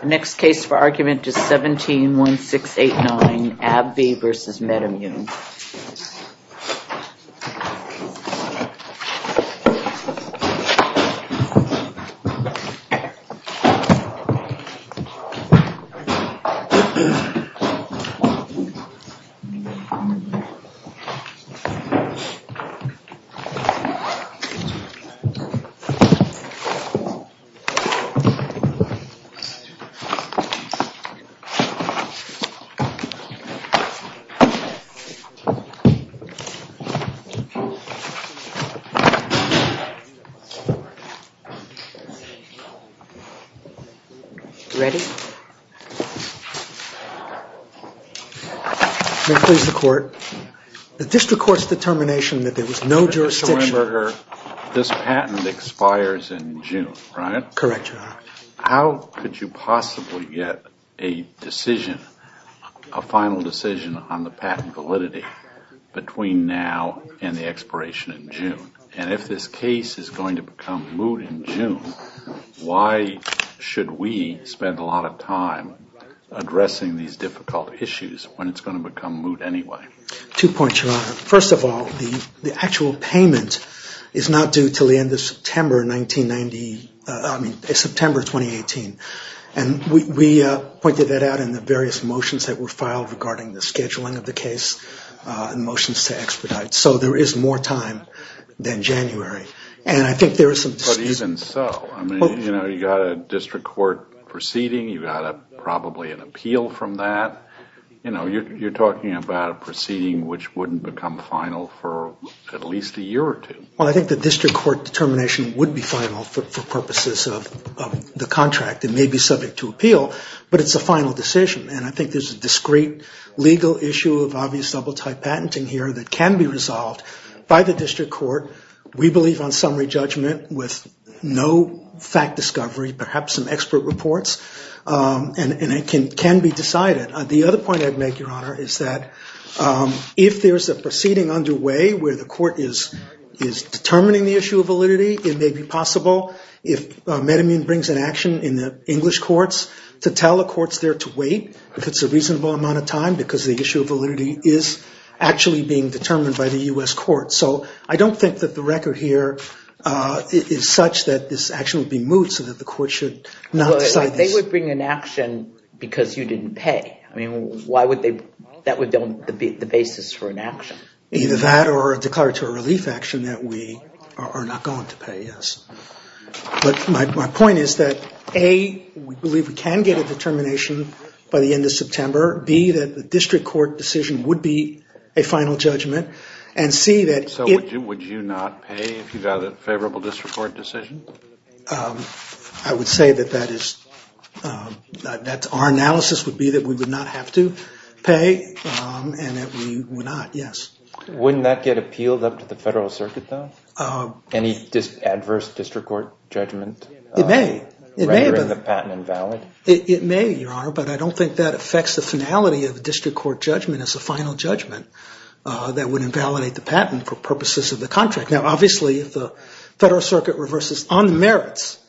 The next case for argument is 171689, AbbVie v. Medimmune. The District Court's determination that there was no jurisdiction. This patent expires in June, right? Correct, Your Honor. How could you possibly get a decision, a final decision on the patent validity between now and the expiration in June? And if this case is going to become moot in June, why should we spend a lot of time addressing these difficult issues when it's going to become moot anyway? Two points, Your Honor. First of all, the actual payment is not due until the end of September 1990, I mean September 2018. And we pointed that out in the various motions that were filed regarding the scheduling of the case and motions to expedite. So there is more time than January. And I think there is some... But even so, I mean, you know, you've got a District Court proceeding. You've got probably an appeal from that. You know, you're talking about a proceeding which wouldn't become final for at least a year or two. Well, I think the District Court determination would be final for purposes of the contract. It may be subject to appeal, but it's a final decision. And I think there's a discreet legal issue of obvious double-tied patenting here that can be resolved by the District Court. We believe on summary judgment with no fact discovery, perhaps some expert reports. And it can be decided. The other point I'd make, Your Honor, is that if there's a proceeding underway where the court is determining the issue of validity, it may be possible if Medamine brings an action in the English courts to tell the courts there to wait, if it's a reasonable amount of time, because the issue of validity is actually being determined by the U.S. court. So I don't think that the record here is such that this action would be moot so that the court should not decide this. But they would bring an action because you didn't pay. I mean, why would they – that would be the basis for an action. Either that or a declaratory relief action that we are not going to pay, yes. But my point is that, A, we believe we can get a determination by the end of September. B, that the District Court decision would be a final judgment. And C, that if – So would you not pay if you got a favorable District Court decision? I would say that that is – that our analysis would be that we would not have to pay and that we would not, yes. Wouldn't that get appealed up to the Federal Circuit, though? Any adverse District Court judgment? It may. Rendering the patent invalid? It may, Your Honor, but I don't think that affects the finality of a District Court judgment as a final judgment that would invalidate the patent for purposes of the contract. Now, obviously, if the Federal Circuit reverses on the merits,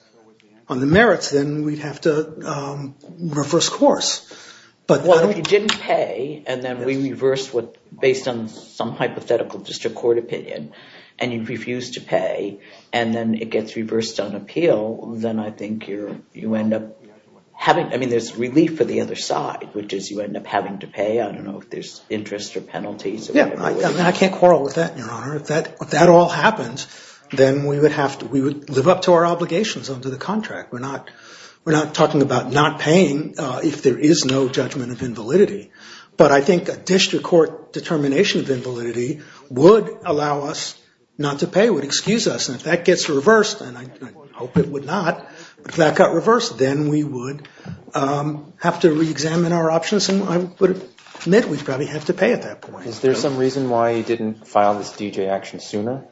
on the merits, then we'd have to reverse course. Well, if you didn't pay and then we reversed based on some hypothetical District Court opinion and you refused to pay and then it gets reversed on appeal, then I think you end up having – I mean, there's relief for the other side, which is you end up having to pay. I don't know if there's interest or penalties. Yeah, I can't quarrel with that, Your Honor. If that all happens, then we would have to – we would live up to our obligations under the contract. We're not talking about not paying if there is no judgment of invalidity. But I think a District Court determination of invalidity would allow us not to pay, would excuse us. And if that gets reversed, and I hope it would not, but if that got reversed, then we would have to reexamine our options and I would admit we'd probably have to pay at that point. Is there some reason why you didn't file this D.J. action sooner?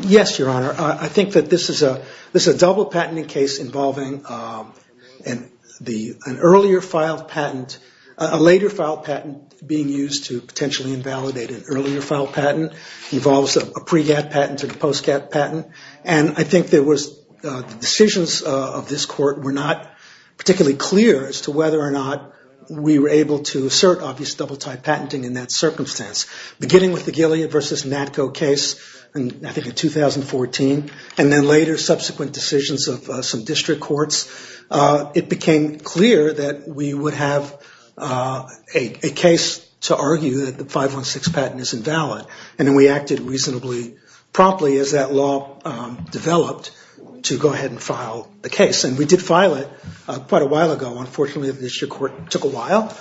Yes, Your Honor. I think that this is a double-patenting case involving an earlier-filed patent, a later-filed patent being used to potentially invalidate an earlier-filed patent. It involves a pre-cat patent and a post-cat patent. And I think there was – the decisions of this Court were not particularly clear as to whether or not we were able to assert obvious double-tied patenting in that circumstance. Beginning with the Gilead v. Natco case, I think in 2014, and then later subsequent decisions of some District Courts, it became clear that we would have a case to argue that the 516 patent is invalid. And then we acted reasonably promptly as that law developed to go ahead and file the case. And we did file it quite a while ago. Unfortunately, the District Court took a while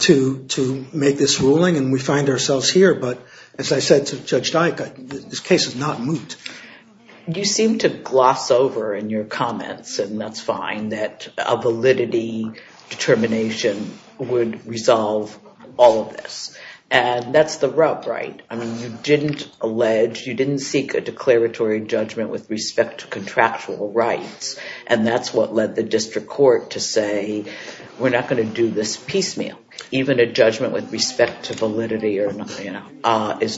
to make this ruling and we find ourselves here. But as I said to Judge Dyke, this case is not moot. You seem to gloss over in your comments, and that's fine, that a validity determination would resolve all of this. And that's the rub, right? I mean, you didn't allege, you didn't seek a declaratory judgment with respect to contractual rights. And that's what led the District Court to say, we're not going to do this piecemeal. Even a judgment with respect to validity is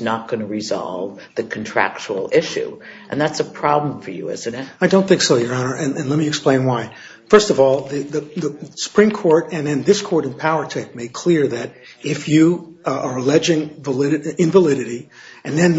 not going to resolve the contractual issue. And that's a problem for you, isn't it? I don't think so, Your Honor, and let me explain why. First of all, the Supreme Court and then this Court in Powertec made clear that if you are alleging invalidity and then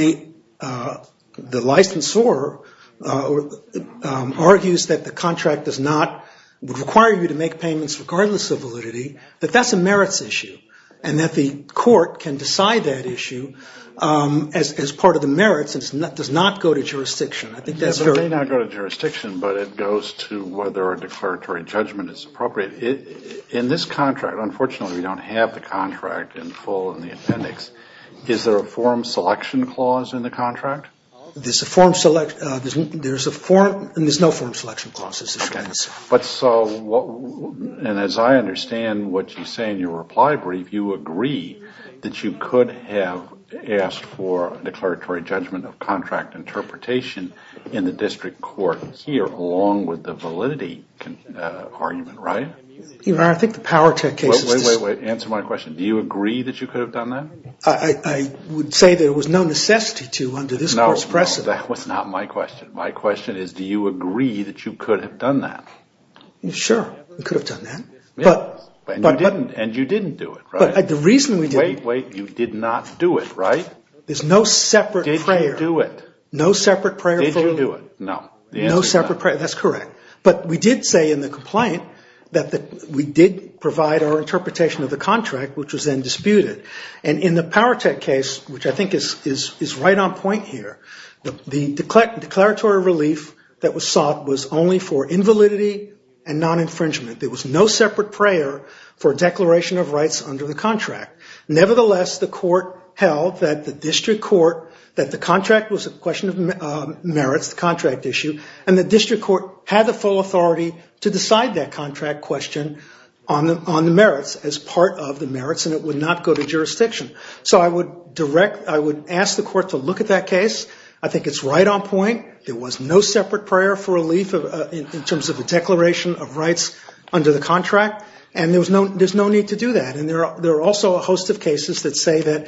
the licensor argues that the contract does not, would require you to make payments regardless of validity, that that's a merits issue. And that the Court can decide that issue as part of the merits and does not go to jurisdiction. It may not go to jurisdiction, but it goes to whether a declaratory judgment is appropriate. In this contract, unfortunately we don't have the contract in full in the appendix. Is there a form selection clause in the contract? There's a form selection, there's a form, there's no form selection clause. But so, and as I understand what you say in your reply brief, you agree that you could have asked for a declaratory judgment of contract interpretation in the district court here along with the validity argument, right? Your Honor, I think the Powertec case is... Wait, wait, wait, answer my question. Do you agree that you could have done that? I would say that it was no necessity to under this Court's precedent. No, no, that was not my question. My question is do you agree that you could have done that? Sure, we could have done that. Yeah, and you didn't, and you didn't do it, right? But the reason we didn't... Wait, wait, you did not do it, right? There's no separate prayer. Didn't do it. No separate prayer. Did you do it? No. No separate prayer, that's correct. But we did say in the complaint that we did provide our interpretation of the contract, which was then disputed. And in the Powertec case, which I think is right on point here, the declaratory relief that was sought was only for invalidity and non-infringement. There was no separate prayer for declaration of rights under the contract. Nevertheless, the Court held that the district court, that the contract was a question of merits, the contract issue, and the district court had the full authority to decide that contract question on the merits, as part of the merits, and it would not go to jurisdiction. So I would ask the Court to look at that case. I think it's right on point. There was no separate prayer for relief in terms of the declaration of rights under the contract, and there's no need to do that. And there are also a host of cases that say that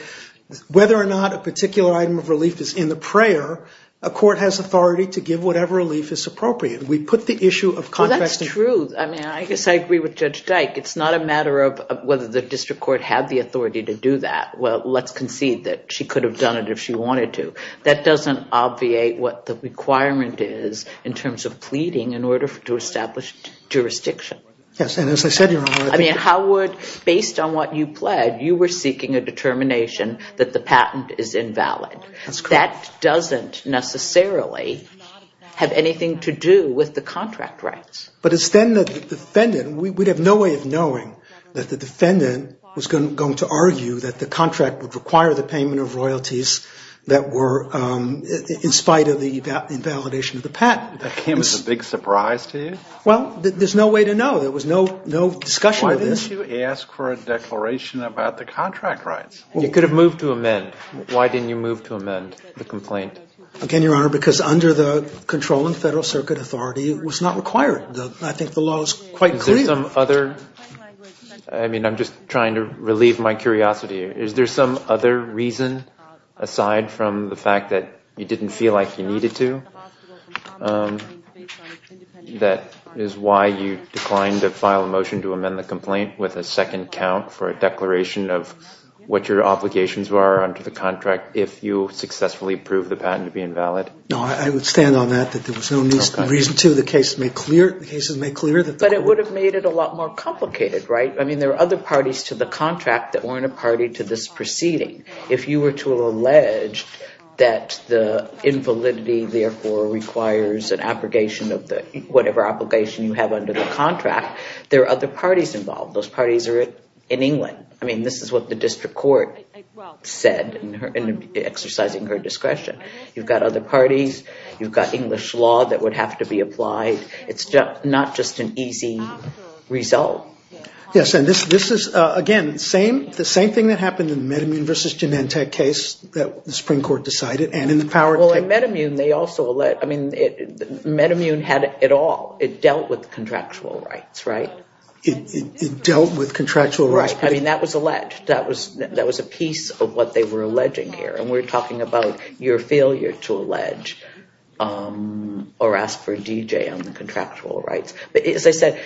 whether or not a particular item of relief is in the prayer, a court has authority to give whatever relief is appropriate. We put the issue of contracting. Well, that's true. I mean, I guess I agree with Judge Dyke. It's not a matter of whether the district court had the authority to do that. Well, let's concede that she could have done it if she wanted to. That doesn't obviate what the requirement is in terms of pleading in order to establish jurisdiction. Yes, and as I said, Your Honor, I think it's true. I mean, how would, based on what you pled, you were seeking a determination that the patent is invalid. That's correct. That doesn't necessarily have anything to do with the contract rights. But it's then that the defendant, we'd have no way of knowing that the defendant was going to argue that the contract would require the payment of royalties that were in spite of the invalidation of the patent. That came as a big surprise to you? Well, there's no way to know. There was no discussion of this. Why didn't you ask for a declaration about the contract rights? You could have moved to amend. Why didn't you move to amend the complaint? Again, Your Honor, because under the controlling Federal Circuit authority, it was not required. I think the law is quite clear. Is there some other, I mean, I'm just trying to relieve my curiosity. Is there some other reason, aside from the fact that you didn't feel like you needed to, that is why you declined to file a motion to amend the complaint with a second count for a declaration of what your obligations were under the contract if you successfully proved the patent to be invalid? No, I would stand on that, that there was no reason to. The case is made clear that the court. But it would have made it a lot more complicated, right? I mean, there are other parties to the contract that weren't a party to this proceeding. If you were to allege that the invalidity therefore requires an abrogation of whatever obligation you have under the contract, there are other parties involved. Those parties are in England. I mean, this is what the district court said in exercising her discretion. You've got other parties. You've got English law that would have to be applied. It's not just an easy result. Yes, and this is, again, the same thing that happened in the MedImmune versus Genentech case that the Supreme Court decided and in the power case. Well, in MedImmune, they also allege, I mean, MedImmune had it all. It dealt with contractual rights, right? It dealt with contractual rights. I mean, that was alleged. That was a piece of what they were alleging here. And we're talking about your failure to allege or ask for a DJ on the contractual rights. As I said,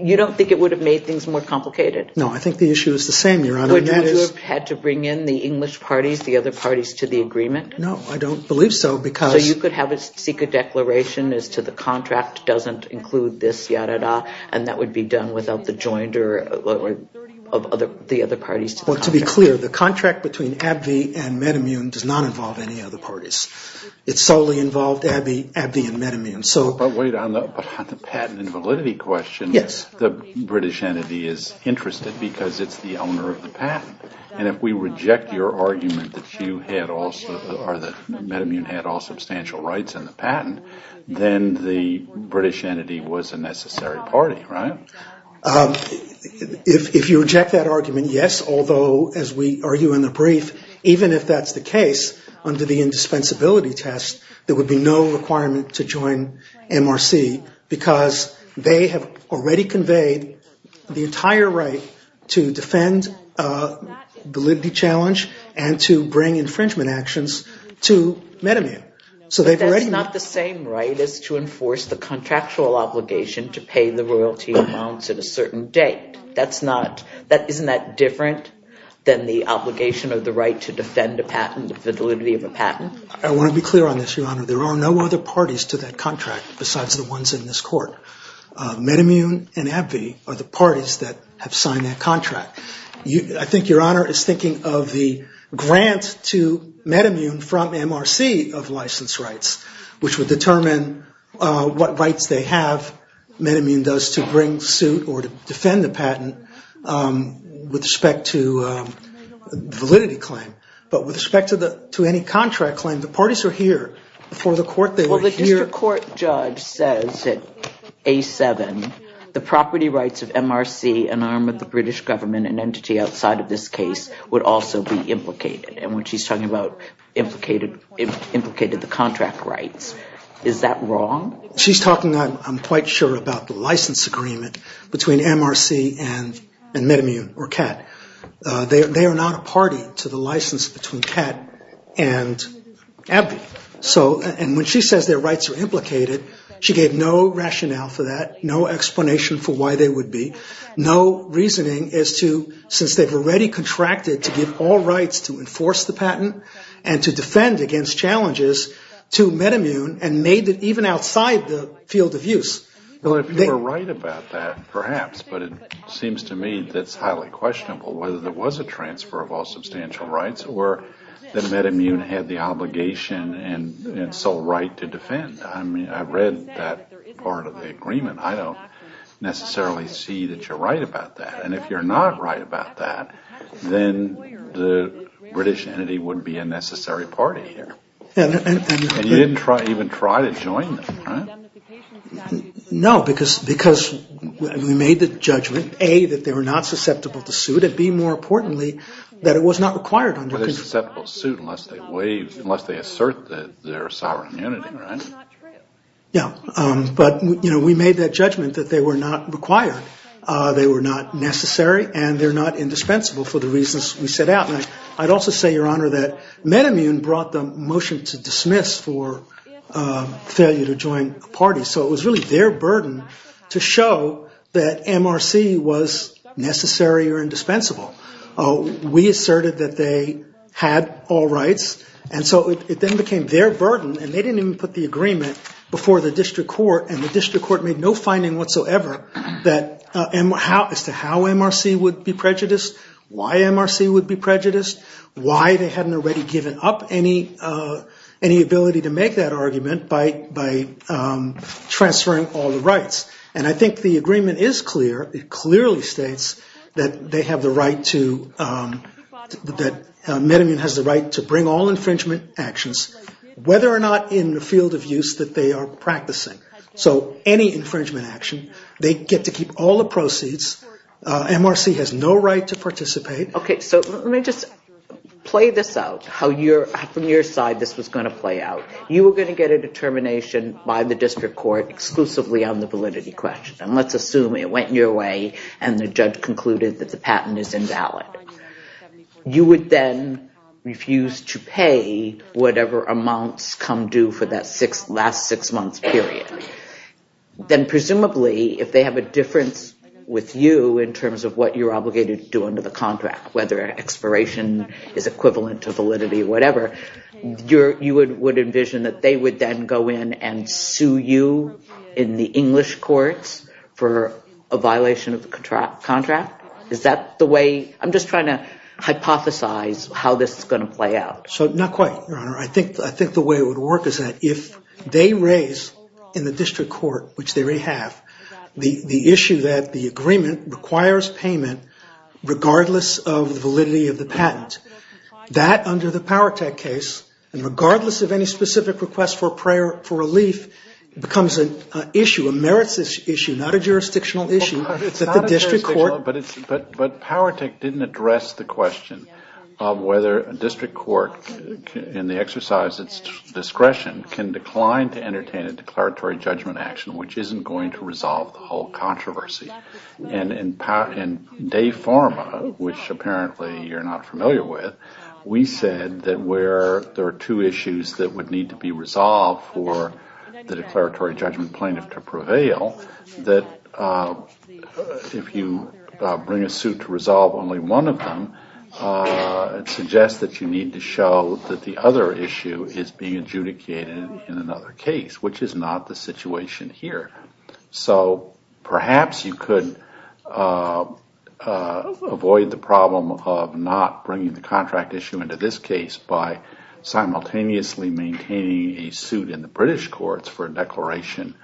you don't think it would have made things more complicated? No, I think the issue is the same, Your Honor. Would you have had to bring in the English parties, the other parties, to the agreement? No, I don't believe so because you could have a secret declaration as to the contract doesn't include this, yada-da, and that would be done without the joinder of the other parties. Well, to be clear, the contract between AbbVie and MedImmune does not involve any other parties. It solely involved AbbVie and MedImmune. But wait, on the patent and validity question, the British entity is interested because it's the owner of the patent. And if we reject your argument that MedImmune had all substantial rights and the patent, then the British entity was a necessary party, right? If you reject that argument, yes, although, as we argue in the brief, even if that's the case under the indispensability test, there would be no requirement to join MRC because they have already conveyed the entire right to defend validity challenge and to bring infringement actions to MedImmune. But that's not the same right as to enforce the contractual obligation to pay the royalty amounts at a certain date. Isn't that different than the obligation of the right to defend the validity of a patent? I want to be clear on this, Your Honor. There are no other parties to that contract besides the ones in this court. MedImmune and AbbVie are the parties that have signed that contract. I think Your Honor is thinking of the grant to MedImmune from MRC of license rights, which would determine what rights they have, MedImmune does, to bring suit or to defend the patent with respect to validity claim. But with respect to any contract claim, the parties are here. Before the court, they were here. Well, the district court judge says that A7, the property rights of MRC, an arm of the British government, an entity outside of this case, would also be implicated. And when she's talking about implicated the contract rights, is that wrong? She's talking, I'm quite sure, about the license agreement between MRC and MedImmune or CAT. They are not a party to the license between CAT and AbbVie. And when she says their rights are implicated, she gave no rationale for that, no explanation for why they would be, no reasoning as to, since they've already contracted to give all rights to enforce the patent and to defend against challenges to MedImmune and made it even outside the field of use. Well, if you were right about that, perhaps. But it seems to me that's highly questionable, whether there was a transfer of all substantial rights or that MedImmune had the obligation and sole right to defend. I read that part of the agreement. I don't necessarily see that you're right about that. And if you're not right about that, then the British entity wouldn't be a necessary party here. And you didn't even try to join them, right? No, because we made the judgment, A, that they were not susceptible to suit, and B, more importantly, that it was not required. But they're susceptible to suit unless they assert their sovereign unity, right? Yeah. But, you know, we made that judgment that they were not required, they were not necessary, and they're not indispensable for the reasons we set out. And I'd also say, Your Honor, that MedImmune brought the motion to dismiss for failure to join a party. So it was really their burden to show that MRC was necessary or indispensable. We asserted that they had all rights. And so it then became their burden, and they didn't even put the agreement before the district court, and the district court made no finding whatsoever as to how MRC would be prejudiced, why MRC would be prejudiced, why they hadn't already given up any ability to make that argument by transferring all the rights. And I think the agreement is clear, it clearly states that they have the right to, that MedImmune has the right to bring all infringement actions, whether or not in the field of use that they are practicing. So any infringement action, they get to keep all the proceeds. MRC has no right to participate. Okay, so let me just play this out, how from your side this was going to play out. You were going to get a determination by the district court exclusively on the validity question, and let's assume it went your way and the judge concluded that the patent is invalid. You would then refuse to pay whatever amounts come due for that last six months period. Then presumably, if they have a difference with you in terms of what you're obligated to do under the contract, whether expiration is equivalent to validity or whatever, you would envision that they would then go in and sue you in the English courts for a violation of the contract? Is that the way? I'm just trying to hypothesize how this is going to play out. So not quite, Your Honor. I think the way it would work is that if they raise in the district court, which they already have, the issue that the agreement requires payment regardless of the validity of the patent, that under the Powertec case, regardless of any specific request for relief, becomes an issue, a merits issue, not a jurisdictional issue, that the district court But Powertec didn't address the question of whether a district court in the exercise of its discretion can decline to entertain a declaratory judgment action which isn't going to resolve the whole controversy. And in de forma, which apparently you're not familiar with, we said that where there are two issues that would need to be resolved for the declaratory judgment plaintiff to prevail, that if you bring a suit to resolve only one of them, it suggests that you need to show that the other issue is being adjudicated in another case, which is not the situation here. So perhaps you could avoid the problem of not bringing the contract issue into this case by simultaneously maintaining a suit in the British courts for a declaration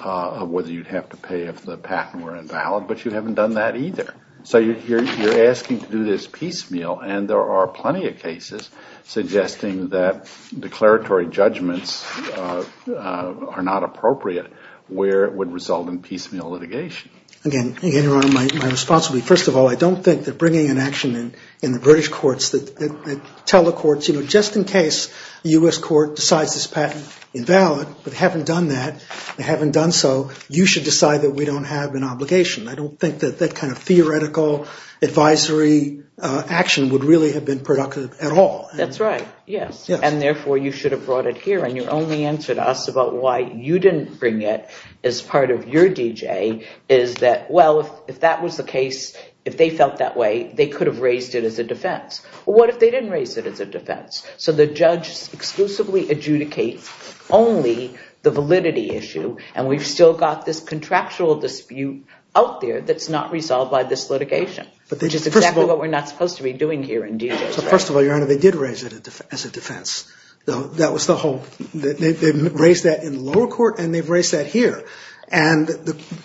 of whether you'd have to pay if the patent were invalid, but you haven't done that either. So you're asking to do this piecemeal. And there are plenty of cases suggesting that declaratory judgments are not appropriate where it would result in piecemeal litigation. Again, Your Honor, my response would be, first of all, I don't think that bringing an action in the British courts that tell the courts, you know, just in case the U.S. court decides this patent invalid, but haven't done that, haven't done so, you should decide that we don't have an obligation. I don't think that that kind of theoretical advisory action would really have been productive at all. That's right. Yes. And therefore, you should have brought it here. And your only answer to us about why you didn't bring it as part of your D.J. is that, well, if that was the case, if they felt that way, they could have raised it as a defense. What if they didn't raise it as a defense? So the judge exclusively adjudicates only the validity issue, and we've still got this contractual dispute out there that's not resolved by this litigation, which is exactly what we're not supposed to be doing here in D.J. So first of all, Your Honor, they did raise it as a defense. That was the whole, they raised that in the lower court and they've raised that here. And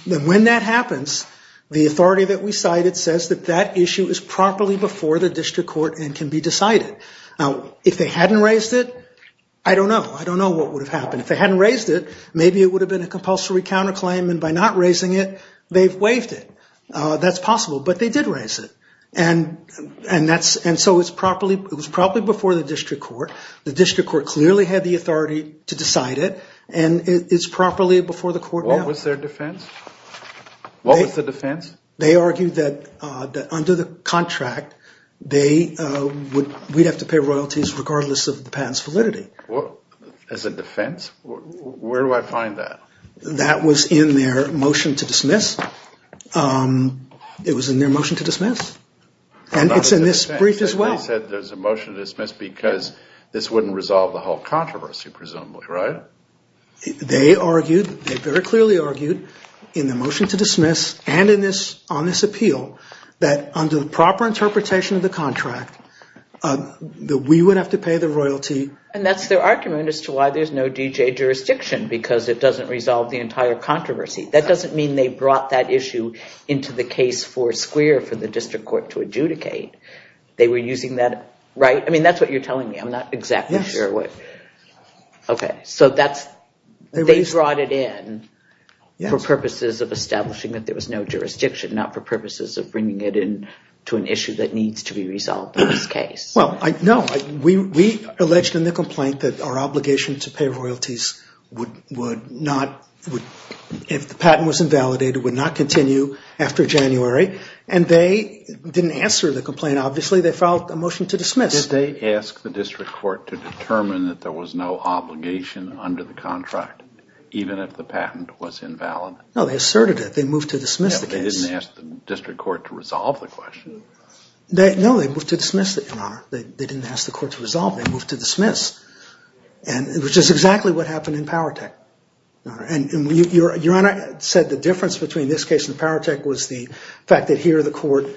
when that happens, the authority that we cited says that that issue is properly before the district court and can be decided. Now, if they hadn't raised it, I don't know. I don't know what would have happened. If they hadn't raised it, maybe it would have been a compulsory counterclaim, and by not raising it, they've waived it. That's possible, but they did raise it. And so it was properly before the district court. The district court clearly had the authority to decide it, and it's properly before the court now. What was their defense? What was the defense? They argued that under the contract, we'd have to pay royalties regardless of the patent's validity. As a defense? Where do I find that? That was in their motion to dismiss. It was in their motion to dismiss. And it's in this brief as well. They said there's a motion to dismiss because this wouldn't resolve the whole controversy, presumably, right? They argued, they very clearly argued, in the motion to dismiss and on this appeal, that under the proper interpretation of the contract, that we would have to pay the royalty. And that's their argument as to why there's no D.J. jurisdiction, because it doesn't resolve the entire controversy. That doesn't mean they brought that issue into the case for square for the district court to adjudicate. They were using that, right? I mean, that's what you're telling me. I'm not exactly sure what. Okay, so they brought it in for purposes of establishing that there was no jurisdiction, not for purposes of bringing it into an issue that needs to be resolved in this case. Well, no. We alleged in the complaint that our obligation to pay royalties would not, if the patent was invalidated, would not continue after January. And they didn't answer the complaint, obviously. They filed a motion to dismiss. Did they ask the district court to determine that there was no obligation under the contract, even if the patent was invalid? No, they asserted it. They moved to dismiss the case. No, they didn't ask the district court to resolve the question. No, they moved to dismiss it, Your Honor. They didn't ask the court to resolve it. They moved to dismiss, which is exactly what happened in Powertech. And Your Honor said the difference between this case and Powertech was the fact that here the court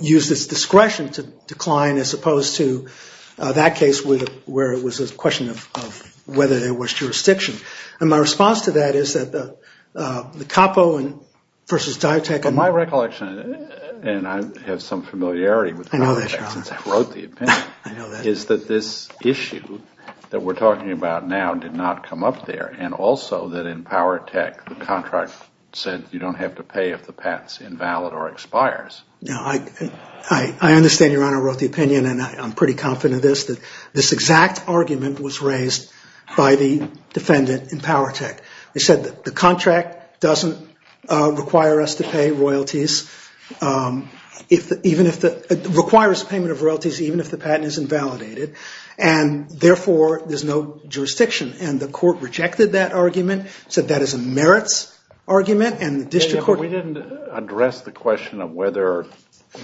used its discretion to decline as opposed to that case where it was a question of whether there was jurisdiction. And my response to that is that the Capo versus Diotech. On my recollection, and I have some familiarity with Powertech since I wrote the opinion, is that this issue that we're talking about now did not come up there, and also that in Powertech the contract said you don't have to pay if the patent's invalid or expires. Now, I understand, Your Honor, wrote the opinion, and I'm pretty confident of this, that this exact argument was raised by the defendant in Powertech. They said the contract doesn't require us to pay royalties, requires payment of royalties even if the patent is invalidated, and therefore there's no jurisdiction. And the court rejected that argument, said that is a merits argument, and the district court... But we didn't address the question of whether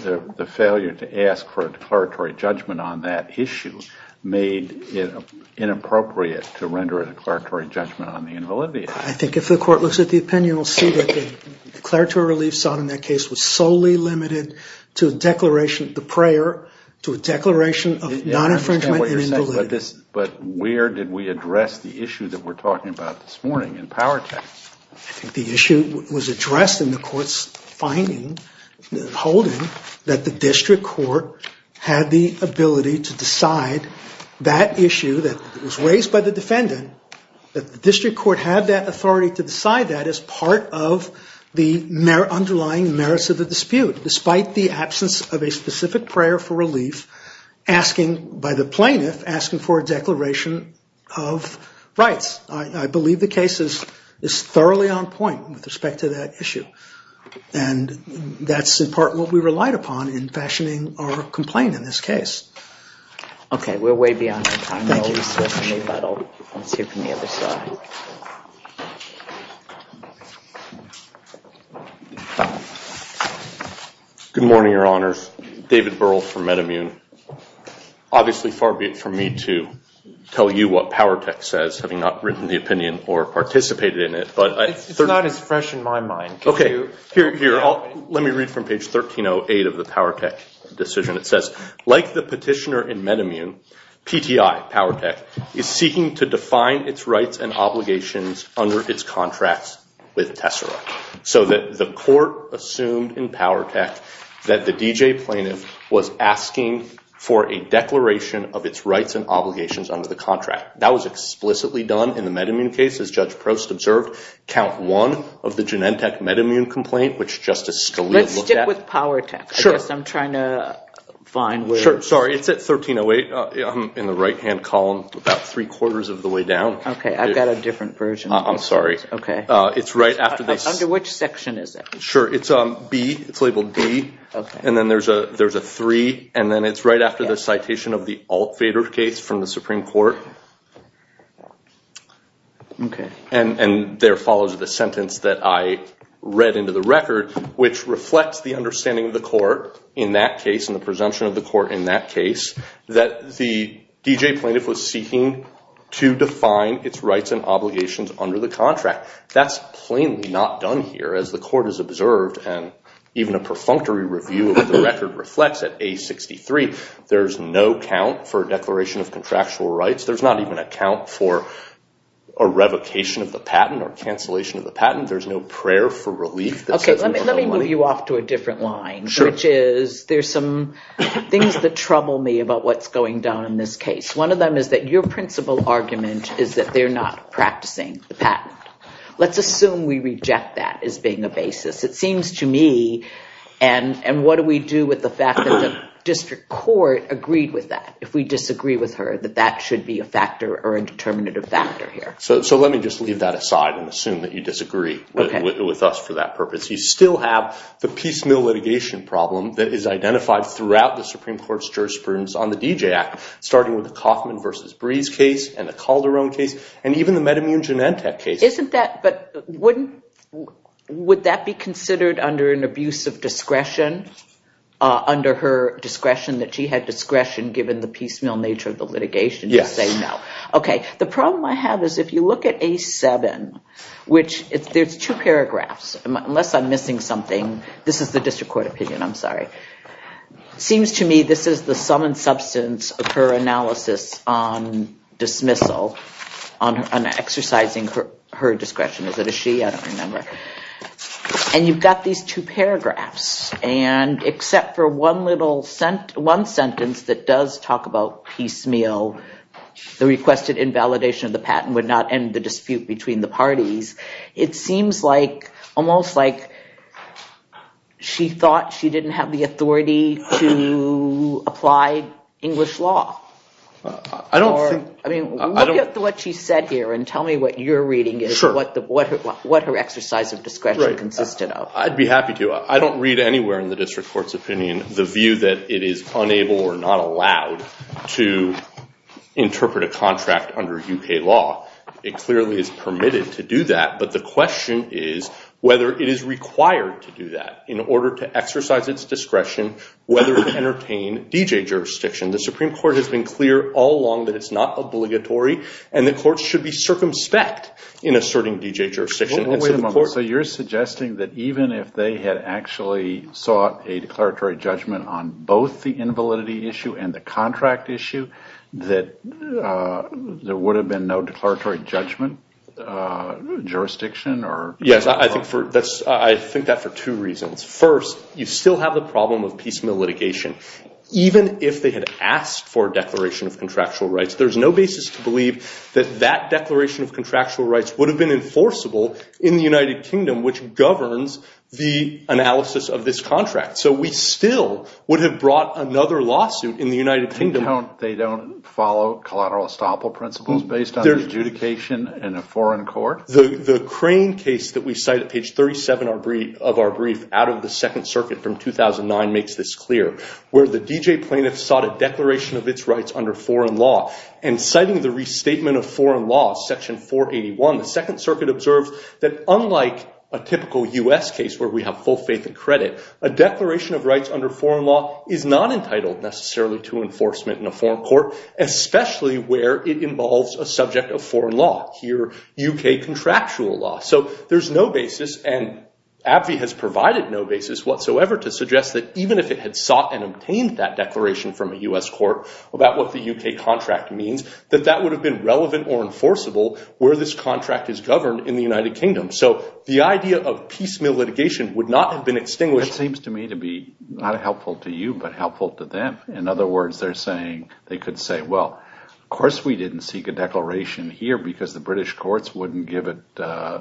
the failure to ask for a declaratory judgment on that issue made it inappropriate to render a declaratory judgment on the invalidity. I think if the court looks at the opinion, we'll see that the declaratory relief sought in that case was solely limited to a declaration, the prayer, to a declaration of non-infringement and invalidity. But where did we address the issue that we're talking about this morning in Powertech? I think the issue was addressed in the court's finding, holding, that the district court had the ability to decide that issue that was raised by the defendant, that the district court had that authority to decide that as part of the underlying merits of the dispute, despite the absence of a specific prayer for relief by the plaintiff asking for a declaration of rights. I believe the case is thoroughly on point with respect to that issue. And that's in part what we relied upon in fashioning our complaint in this case. Okay, we're way beyond our time. Good morning, Your Honors. David Burrell from MedImmune. Obviously, far be it from me to tell you what Powertech says, having not written the opinion or participated in it. It's not as fresh in my mind. Okay, here, let me read from page 1308 of the Powertech decision. It says, like the petitioner in MedImmune, PTI, Powertech, is seeking to define its rights and obligations under its contracts with Tessera. So that the court assumed in Powertech that the DJ plaintiff was asking for a declaration of its rights and obligations under the contract. That was explicitly done in the MedImmune case, as Judge Prost observed. Count one of the Genentech MedImmune complaint, which Justice Scalia looked at. Let's stick with Powertech. I guess I'm trying to find where... Sure, sorry, it's at 1308 in the right-hand column, about three-quarters of the way down. Okay, I've got a different version. I'm sorry. Under which section is it? Sure, it's labeled B, and then there's a three, and then it's right after the citation of the Altvater case from the Supreme Court. Okay. And there follows the sentence that I read into the record, which reflects the understanding of the court in that case, and the presumption of the court in that case, that the DJ plaintiff was seeking to define its rights and obligations under the contract. That's plainly not done here, as the court has observed, and even a perfunctory review of the record reflects at A63. There's no count for a declaration of contractual rights. There's not even a count for a revocation of the patent or cancellation of the patent. There's no prayer for relief. Okay, let me move you off to a different line, which is there's some things that trouble me about what's going down in this case. One of them is that your principal argument is that they're not practicing the patent. Let's assume we reject that as being a basis. It seems to me, and what do we do with the fact that the district court agreed with that? If we disagree with her, that that should be a factor or a determinative factor here. So let me just leave that aside and assume that you disagree with us for that purpose. You still have the piecemeal litigation problem that is identified throughout the Supreme Court's jurisprudence on the DJ Act, starting with the Kauffman v. Brees case and the Calderon case and even the Medimune-Genentech case. But wouldn't, would that be considered under an abuse of discretion? Under her discretion that she had discretion given the piecemeal nature of the litigation to say no? Yes. Okay, the problem I have is if you look at A7, which there's two paragraphs, unless I'm missing something. It seems to me this is the sum and substance of her analysis on dismissal, on exercising her discretion. Is it a she? I don't remember. And you've got these two paragraphs, and except for one sentence that does talk about piecemeal, the requested invalidation of the patent would not end the dispute between the parties. It seems like, almost like she thought she didn't have the authority to apply English law. I don't think. I mean, look at what she said here and tell me what you're reading is what her exercise of discretion consisted of. I'd be happy to. I don't read anywhere in the district court's opinion the view that it is unable or not allowed to interpret a contract under U.K. law. It clearly is permitted to do that, but the question is whether it is required to do that in order to exercise its discretion, whether to entertain D.J. jurisdiction. The Supreme Court has been clear all along that it's not obligatory, and the courts should be circumspect in asserting D.J. jurisdiction. Wait a moment. So you're suggesting that even if they had actually sought a declaratory judgment on both the invalidity issue and the contract issue that there would have been no declaratory judgment jurisdiction? Yes, I think that for two reasons. First, you still have the problem of piecemeal litigation. Even if they had asked for a declaration of contractual rights, there's no basis to believe that that declaration of contractual rights would have been enforceable in the United Kingdom, which governs the analysis of this contract. So we still would have brought another lawsuit in the United Kingdom. They don't follow collateral estoppel principles based on adjudication in a foreign court? The Crane case that we cite at page 37 of our brief out of the Second Circuit from 2009 makes this clear, where the D.J. plaintiff sought a declaration of its rights under foreign law, and citing the restatement of foreign law, section 481, the Second Circuit observes that unlike a typical U.S. case where we have full faith and credit, a declaration of rights under foreign law is not entitled necessarily to enforcement in a foreign court, especially where it involves a subject of foreign law, here U.K. contractual law. So there's no basis, and AbbVie has provided no basis whatsoever to suggest that even if it had sought and obtained that declaration from a U.S. court about what the U.K. contract means, that that would have been relevant or enforceable where this contract is governed in the United Kingdom. So the idea of piecemeal litigation would not have been extinguished. It seems to me to be not helpful to you, but helpful to them. In other words, they're saying they could say, well, of course we didn't seek a declaration here because the British courts wouldn't give it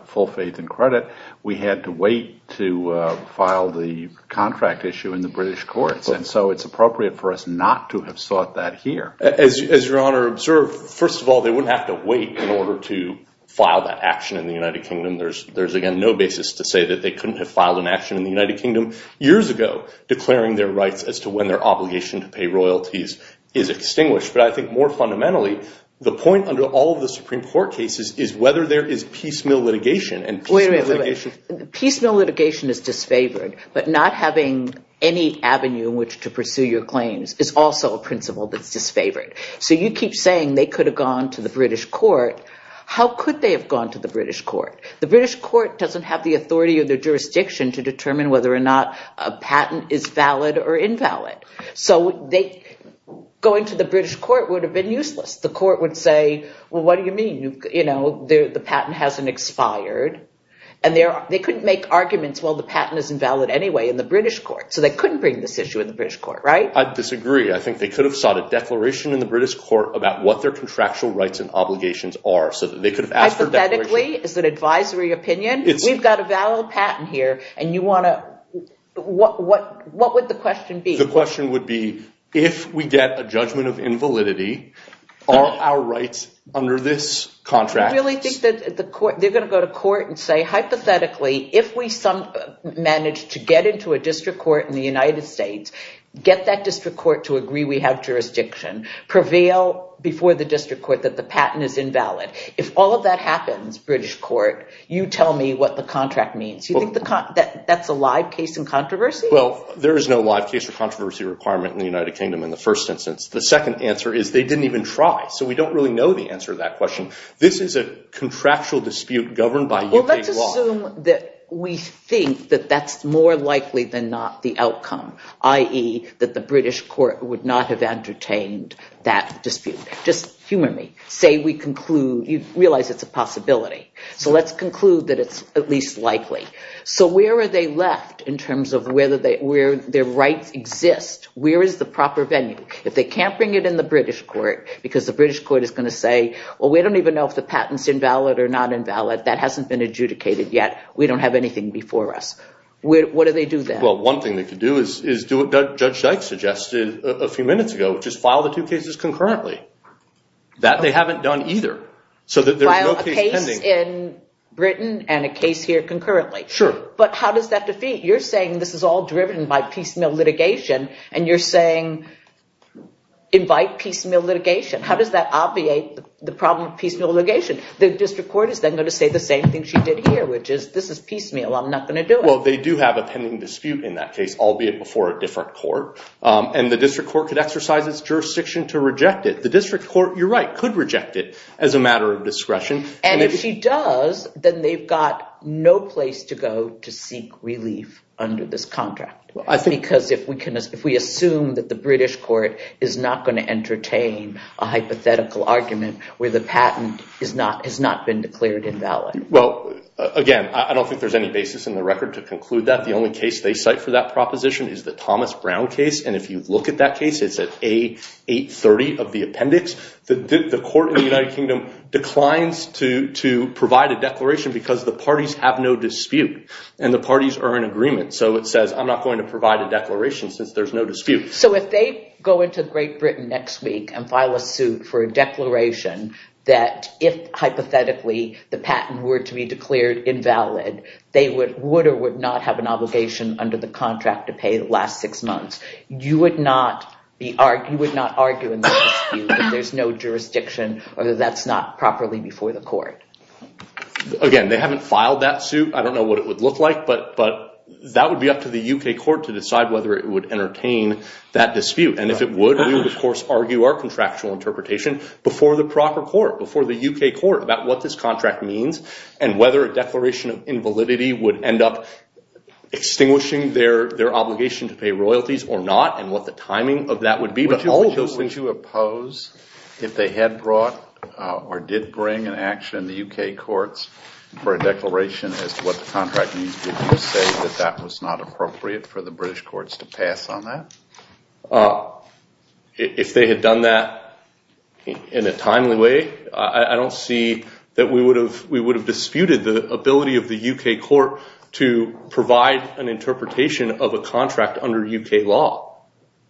full faith and credit. We had to wait to file the contract issue in the British courts, and so it's appropriate for us not to have sought that here. As Your Honor observed, first of all, they wouldn't have to wait in order to file that action in the United Kingdom. There's again no basis to say that they couldn't have filed an action in the United Kingdom years ago declaring their rights as to when their obligation to pay royalties is extinguished. But I think more fundamentally, the point under all of the Supreme Court cases is whether there is piecemeal litigation. Wait a minute. Piecemeal litigation is disfavored, but not having any avenue in which to pursue your claims is also a principle that's disfavored. So you keep saying they could have gone to the British court. How could they have gone to the British court? The British court doesn't have the authority or the jurisdiction to determine whether or not a patent is valid or invalid. So going to the British court would have been useless. The court would say, well, what do you mean? The patent hasn't expired. And they couldn't make arguments, well, the patent is invalid anyway in the British court. So they couldn't bring this issue in the British court, right? I disagree. I think they could have sought a declaration in the British court about what their contractual rights and obligations are. Hypothetically, it's an advisory opinion. We've got a valid patent here. What would the question be? The question would be, if we get a judgment of invalidity, are our rights under this contract? I really think they're going to go to court and say, hypothetically, if we manage to get into a district court in the United States, get that district court to agree we have jurisdiction, prevail before the district court that the patent is invalid. If all of that happens, British court, you tell me what the contract means. Do you think that's a live case in controversy? Well, there is no live case or controversy requirement in the United Kingdom in the first instance. The second answer is they didn't even try. So we don't really know the answer to that question. This is a contractual dispute governed by U.K. law. Well, let's assume that we think that that's more likely than not the outcome, i.e., that the British court would not have entertained that dispute. Just humor me. You realize it's a possibility. So let's conclude that it's at least likely. So where are they left in terms of where their rights exist? Where is the proper venue? If they can't bring it in the British court, because the British court is going to say, well, we don't even know if the patent is invalid or not invalid, that hasn't been adjudicated yet, we don't have anything before us. What do they do then? Well, one thing they could do is do what Judge Dyke suggested a few minutes ago, which is file the two cases concurrently. That they haven't done either. File a case in Britain and a case here concurrently. Sure. But how does that defeat? You're saying this is all driven by piecemeal litigation, and you're saying invite piecemeal litigation. How does that obviate the problem of piecemeal litigation? The district court is then going to say the same thing she did here, which is this is piecemeal. I'm not going to do it. Well, they do have a pending dispute in that case, albeit before a different court. And the district court could exercise its jurisdiction to reject it. The district court, you're right, could reject it as a matter of discretion. And if she does, then they've got no place to go to seek relief under this contract. Because if we assume that the British court is not going to entertain a hypothetical argument where the patent has not been declared invalid. Well, again, I don't think there's any basis in the record to conclude that. The only case they cite for that proposition is the Thomas Brown case. And if you look at that case, it's at A830 of the appendix. The court in the United Kingdom declines to provide a declaration because the parties have no dispute. And the parties are in agreement. So it says, I'm not going to provide a declaration since there's no dispute. So if they go into Great Britain next week and file a suit for a declaration that if, hypothetically, the patent were to be declared invalid, they would or would not have an obligation under the contract to pay the last six months, you would not argue in that dispute if there's no jurisdiction or that that's not properly before the court. Again, they haven't filed that suit. I don't know what it would look like. But that would be up to the UK court to decide whether it would entertain that dispute. And if it would, we would, of course, argue our contractual interpretation before the proper court, before the UK court, about what this contract means and whether a declaration of invalidity would end up extinguishing their obligation to pay royalties or not and what the timing of that would be. But all of those things- Would you oppose if they had brought or did bring an action in the UK courts for a declaration as to what the contract means? Did you say that that was not appropriate for the British courts to pass on that? If they had done that in a timely way, I don't see that we would have disputed the ability of the UK court to provide an interpretation of a contract under UK law.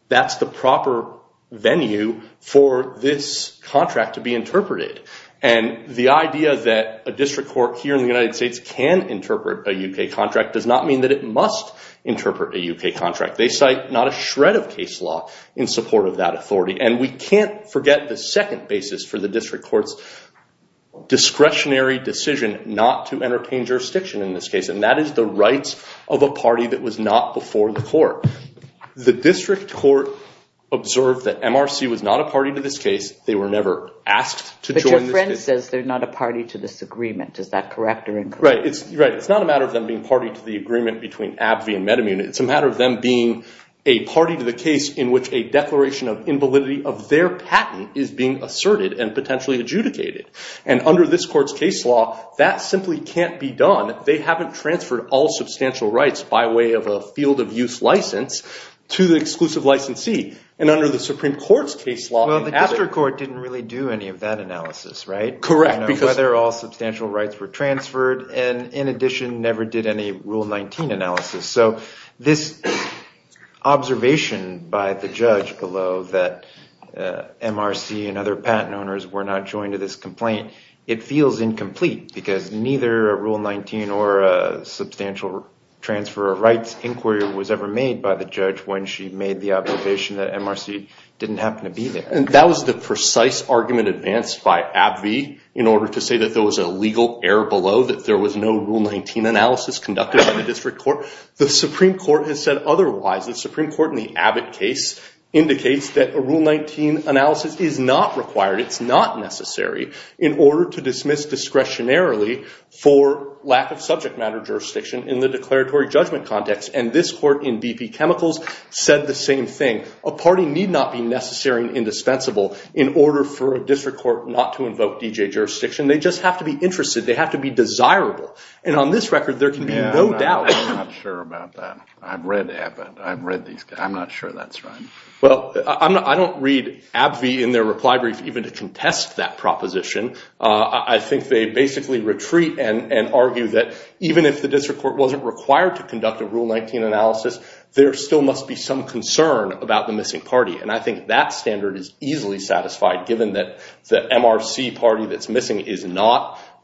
That's the proper venue for this contract to be interpreted. And the idea that a district court here in the United States can interpret a UK contract does not mean that it must interpret a UK contract. They cite not a shred of case law in support of that authority. And we can't forget the second basis for the district court's discretionary decision not to entertain jurisdiction in this case. And that is the rights of a party that was not before the court. The district court observed that MRC was not a party to this case. They were never asked to join this case. But your friend says they're not a party to this agreement. Is that correct or incorrect? Right. It's not a matter of them being party to the agreement between AbbVie and MediMun. It's a matter of them being a party to the case in which a declaration of invalidity of their patent is being asserted and potentially adjudicated. And under this court's case law, that simply can't be done. They haven't transferred all substantial rights by way of a field-of-use license to the exclusive licensee. And under the Supreme Court's case law, the district court didn't really do any of that analysis, right? Correct. Whether all substantial rights were transferred and, in addition, never did any Rule 19 analysis. So this observation by the judge below that MRC and other patent owners were not joined to this complaint, it feels incomplete because neither a Rule 19 or a substantial transfer of rights inquiry was ever made by the judge when she made the observation that MRC didn't happen to be there. And that was the precise argument advanced by AbbVie in order to say that there was a legal error below, that there was no Rule 19 analysis conducted by the district court. The Supreme Court has said otherwise. The Supreme Court in the Abbott case indicates that a Rule 19 analysis is not required, it's not necessary, in order to dismiss discretionarily for lack of subject matter jurisdiction in the declaratory judgment context. And this court in BP Chemicals said the same thing. A party need not be necessary and indispensable in order for a district court not to invoke DJ jurisdiction. They just have to be interested. They have to be desirable. And on this record, there can be no doubt. I'm not sure about that. I've read Abbott. I've read these guys. I'm not sure that's right. Well, I don't read AbbVie in their reply brief even to contest that proposition. I think they basically retreat and argue that even if the district court wasn't required to conduct a Rule 19 analysis, there still must be some concern about the missing party. And I think that standard is easily satisfied given that the MRC party that's missing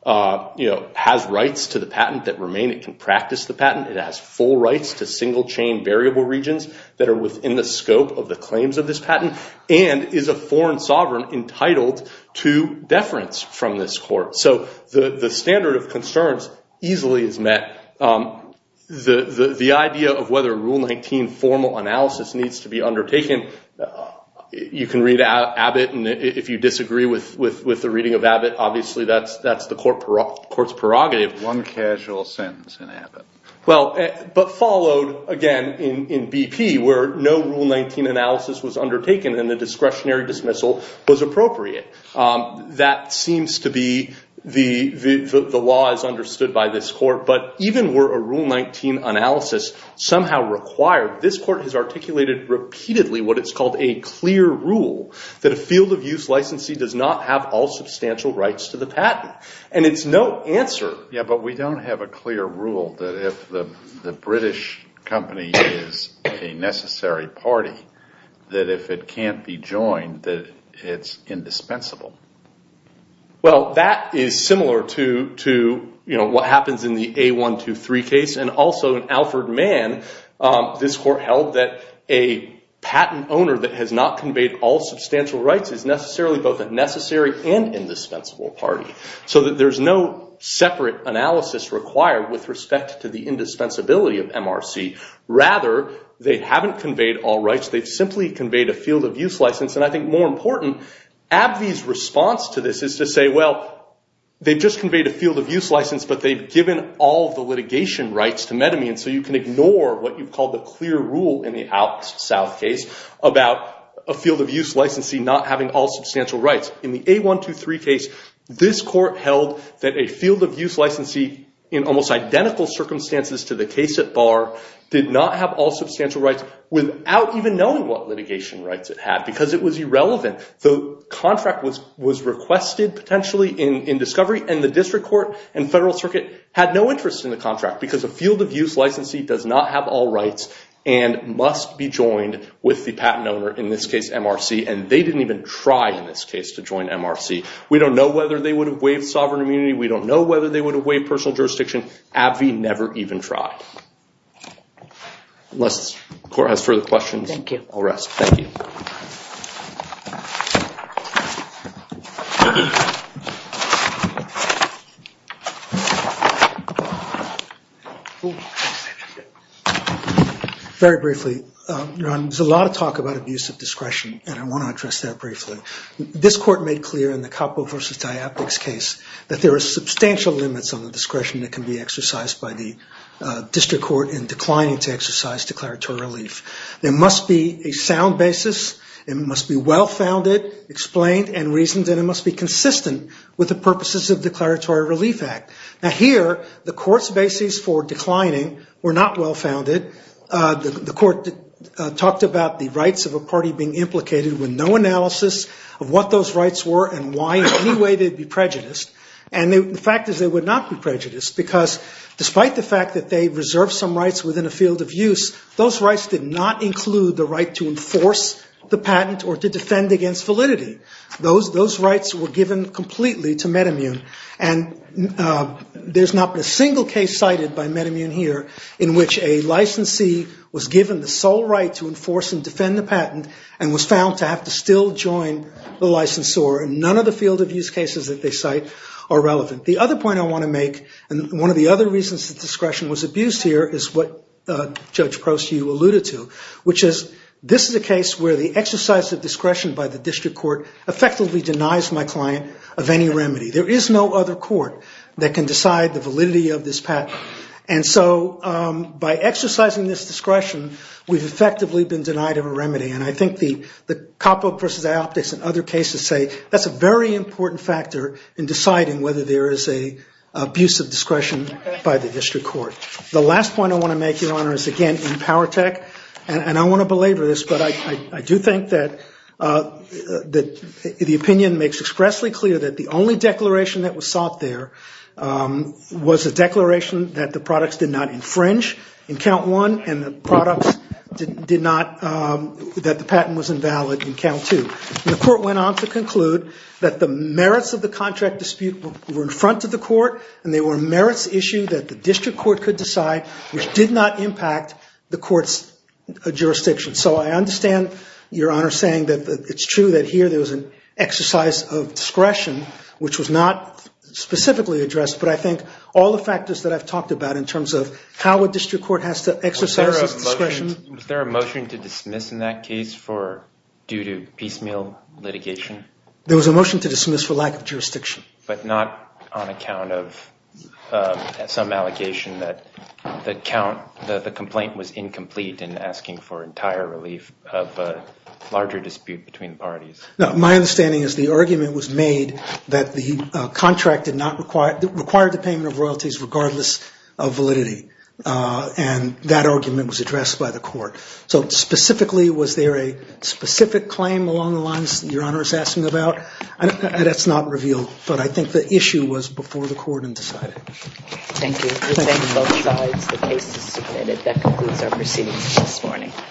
has rights to the patent that remain. It can practice the patent. It has full rights to single-chain variable regions that are within the scope of the claims of this patent and is a foreign sovereign entitled to deference from this court. So the standard of concerns easily is met. The idea of whether Rule 19 formal analysis needs to be undertaken, you can read Abbott. And if you disagree with the reading of Abbott, obviously that's the court's prerogative. One casual sentence in Abbott. But followed, again, in BP where no Rule 19 analysis was undertaken and the discretionary dismissal was appropriate. That seems to be the law as understood by this court. But even were a Rule 19 analysis somehow required, this court has articulated repeatedly what is called a clear rule, that a field of use licensee does not have all substantial rights to the patent. And it's no answer. Yeah, but we don't have a clear rule that if the British company is a necessary party, that if it can't be joined, that it's indispensable. Well, that is similar to what happens in the A123 case. And also in Alford Mann, this court held that a patent owner that has not conveyed all substantial rights is necessarily both a necessary and indispensable party. So that there's no separate analysis required with respect to the indispensability of MRC. Rather, they haven't conveyed all rights. They've simply conveyed a field of use license. And I think more important, AbbVie's response to this is to say, well, they've just conveyed a field of use license, but they've given all the litigation rights to Metamine. So you can ignore what you call the clear rule in the Alks South case about a field of use licensee not having all substantial rights. In the A123 case, this court held that a field of use licensee in almost identical circumstances to the case at Barr did not have all substantial rights without even knowing what litigation rights it had. Because it was irrelevant. The contract was requested, potentially, in discovery. And the district court and federal circuit had no interest in the contract. Because a field of use licensee does not have all rights and must be joined with the patent owner, in this case, MRC. And they didn't even try, in this case, to join MRC. We don't know whether they would have waived sovereign immunity. We don't know whether they would have waived personal jurisdiction. AbbVie never even tried. Unless the court has further questions, I'll rest. Thank you. Very briefly, Ron, there's a lot of talk about abuse of discretion. And I want to address that briefly. This court made clear in the Capo v. Diaptics case that there are substantial limits on the discretion that can be exercised by the district court in declining to exercise declaratory relief. There must be a sound basis. It must be well-founded, explained, and reasoned. And it must be consistent with the purposes of the Declaratory Relief Act. Now, here, the court's basis for declining were not well-founded. The court talked about the rights of a party being implicated with no analysis of what those rights were and why, in any way, they'd be prejudiced. And the fact is they would not be prejudiced. Because despite the fact that they reserved some rights within a field of use, those rights did not include the right to enforce the patent or to defend against validity. Those rights were given completely to MedImmune. And there's not been a single case cited by MedImmune here in which a licensee was given the sole right to enforce and defend the patent and was found to have to still join the licensor. And none of the field of use cases that they cite are relevant. The other point I want to make, and one of the other reasons that discretion was abused here, is what Judge Prost, you alluded to, which is this is a case where the exercise of discretion by the district court effectively denies my client of any remedy. There is no other court that can decide the validity of this patent. And so by exercising this discretion, we've effectively been denied of a remedy. And I think the Koppel v. Ioptics and other cases say that's a very important factor in deciding whether there is an abuse of discretion by the district court. The last point I want to make, Your Honor, is again in Powertech, and I want to belabor this, but I do think that the opinion makes expressly clear that the only declaration that was sought there was a declaration that the products did not infringe in count one and that the patent was invalid in count two. The court went on to conclude that the merits of the contract dispute were in front of the court and they were a merits issue that the district court could decide, which did not impact the court's jurisdiction. So I understand, Your Honor, saying that it's true that here there was an exercise of discretion, which was not specifically addressed, but I think all the factors that I've talked about in terms of how a district court has to exercise its discretion. Was there a motion to dismiss in that case due to piecemeal litigation? There was a motion to dismiss for lack of jurisdiction. But not on account of some allegation that the complaint was incomplete and asking for entire relief of a larger dispute between the parties. My understanding is the argument was made that the contract required the payment of royalties regardless of validity, and that argument was addressed by the court. So specifically, was there a specific claim along the lines that Your Honor is asking about? That's not revealed, but I think the issue was before the court in deciding. Thank you. The same on both sides. The case is submitted. That concludes our proceedings this morning.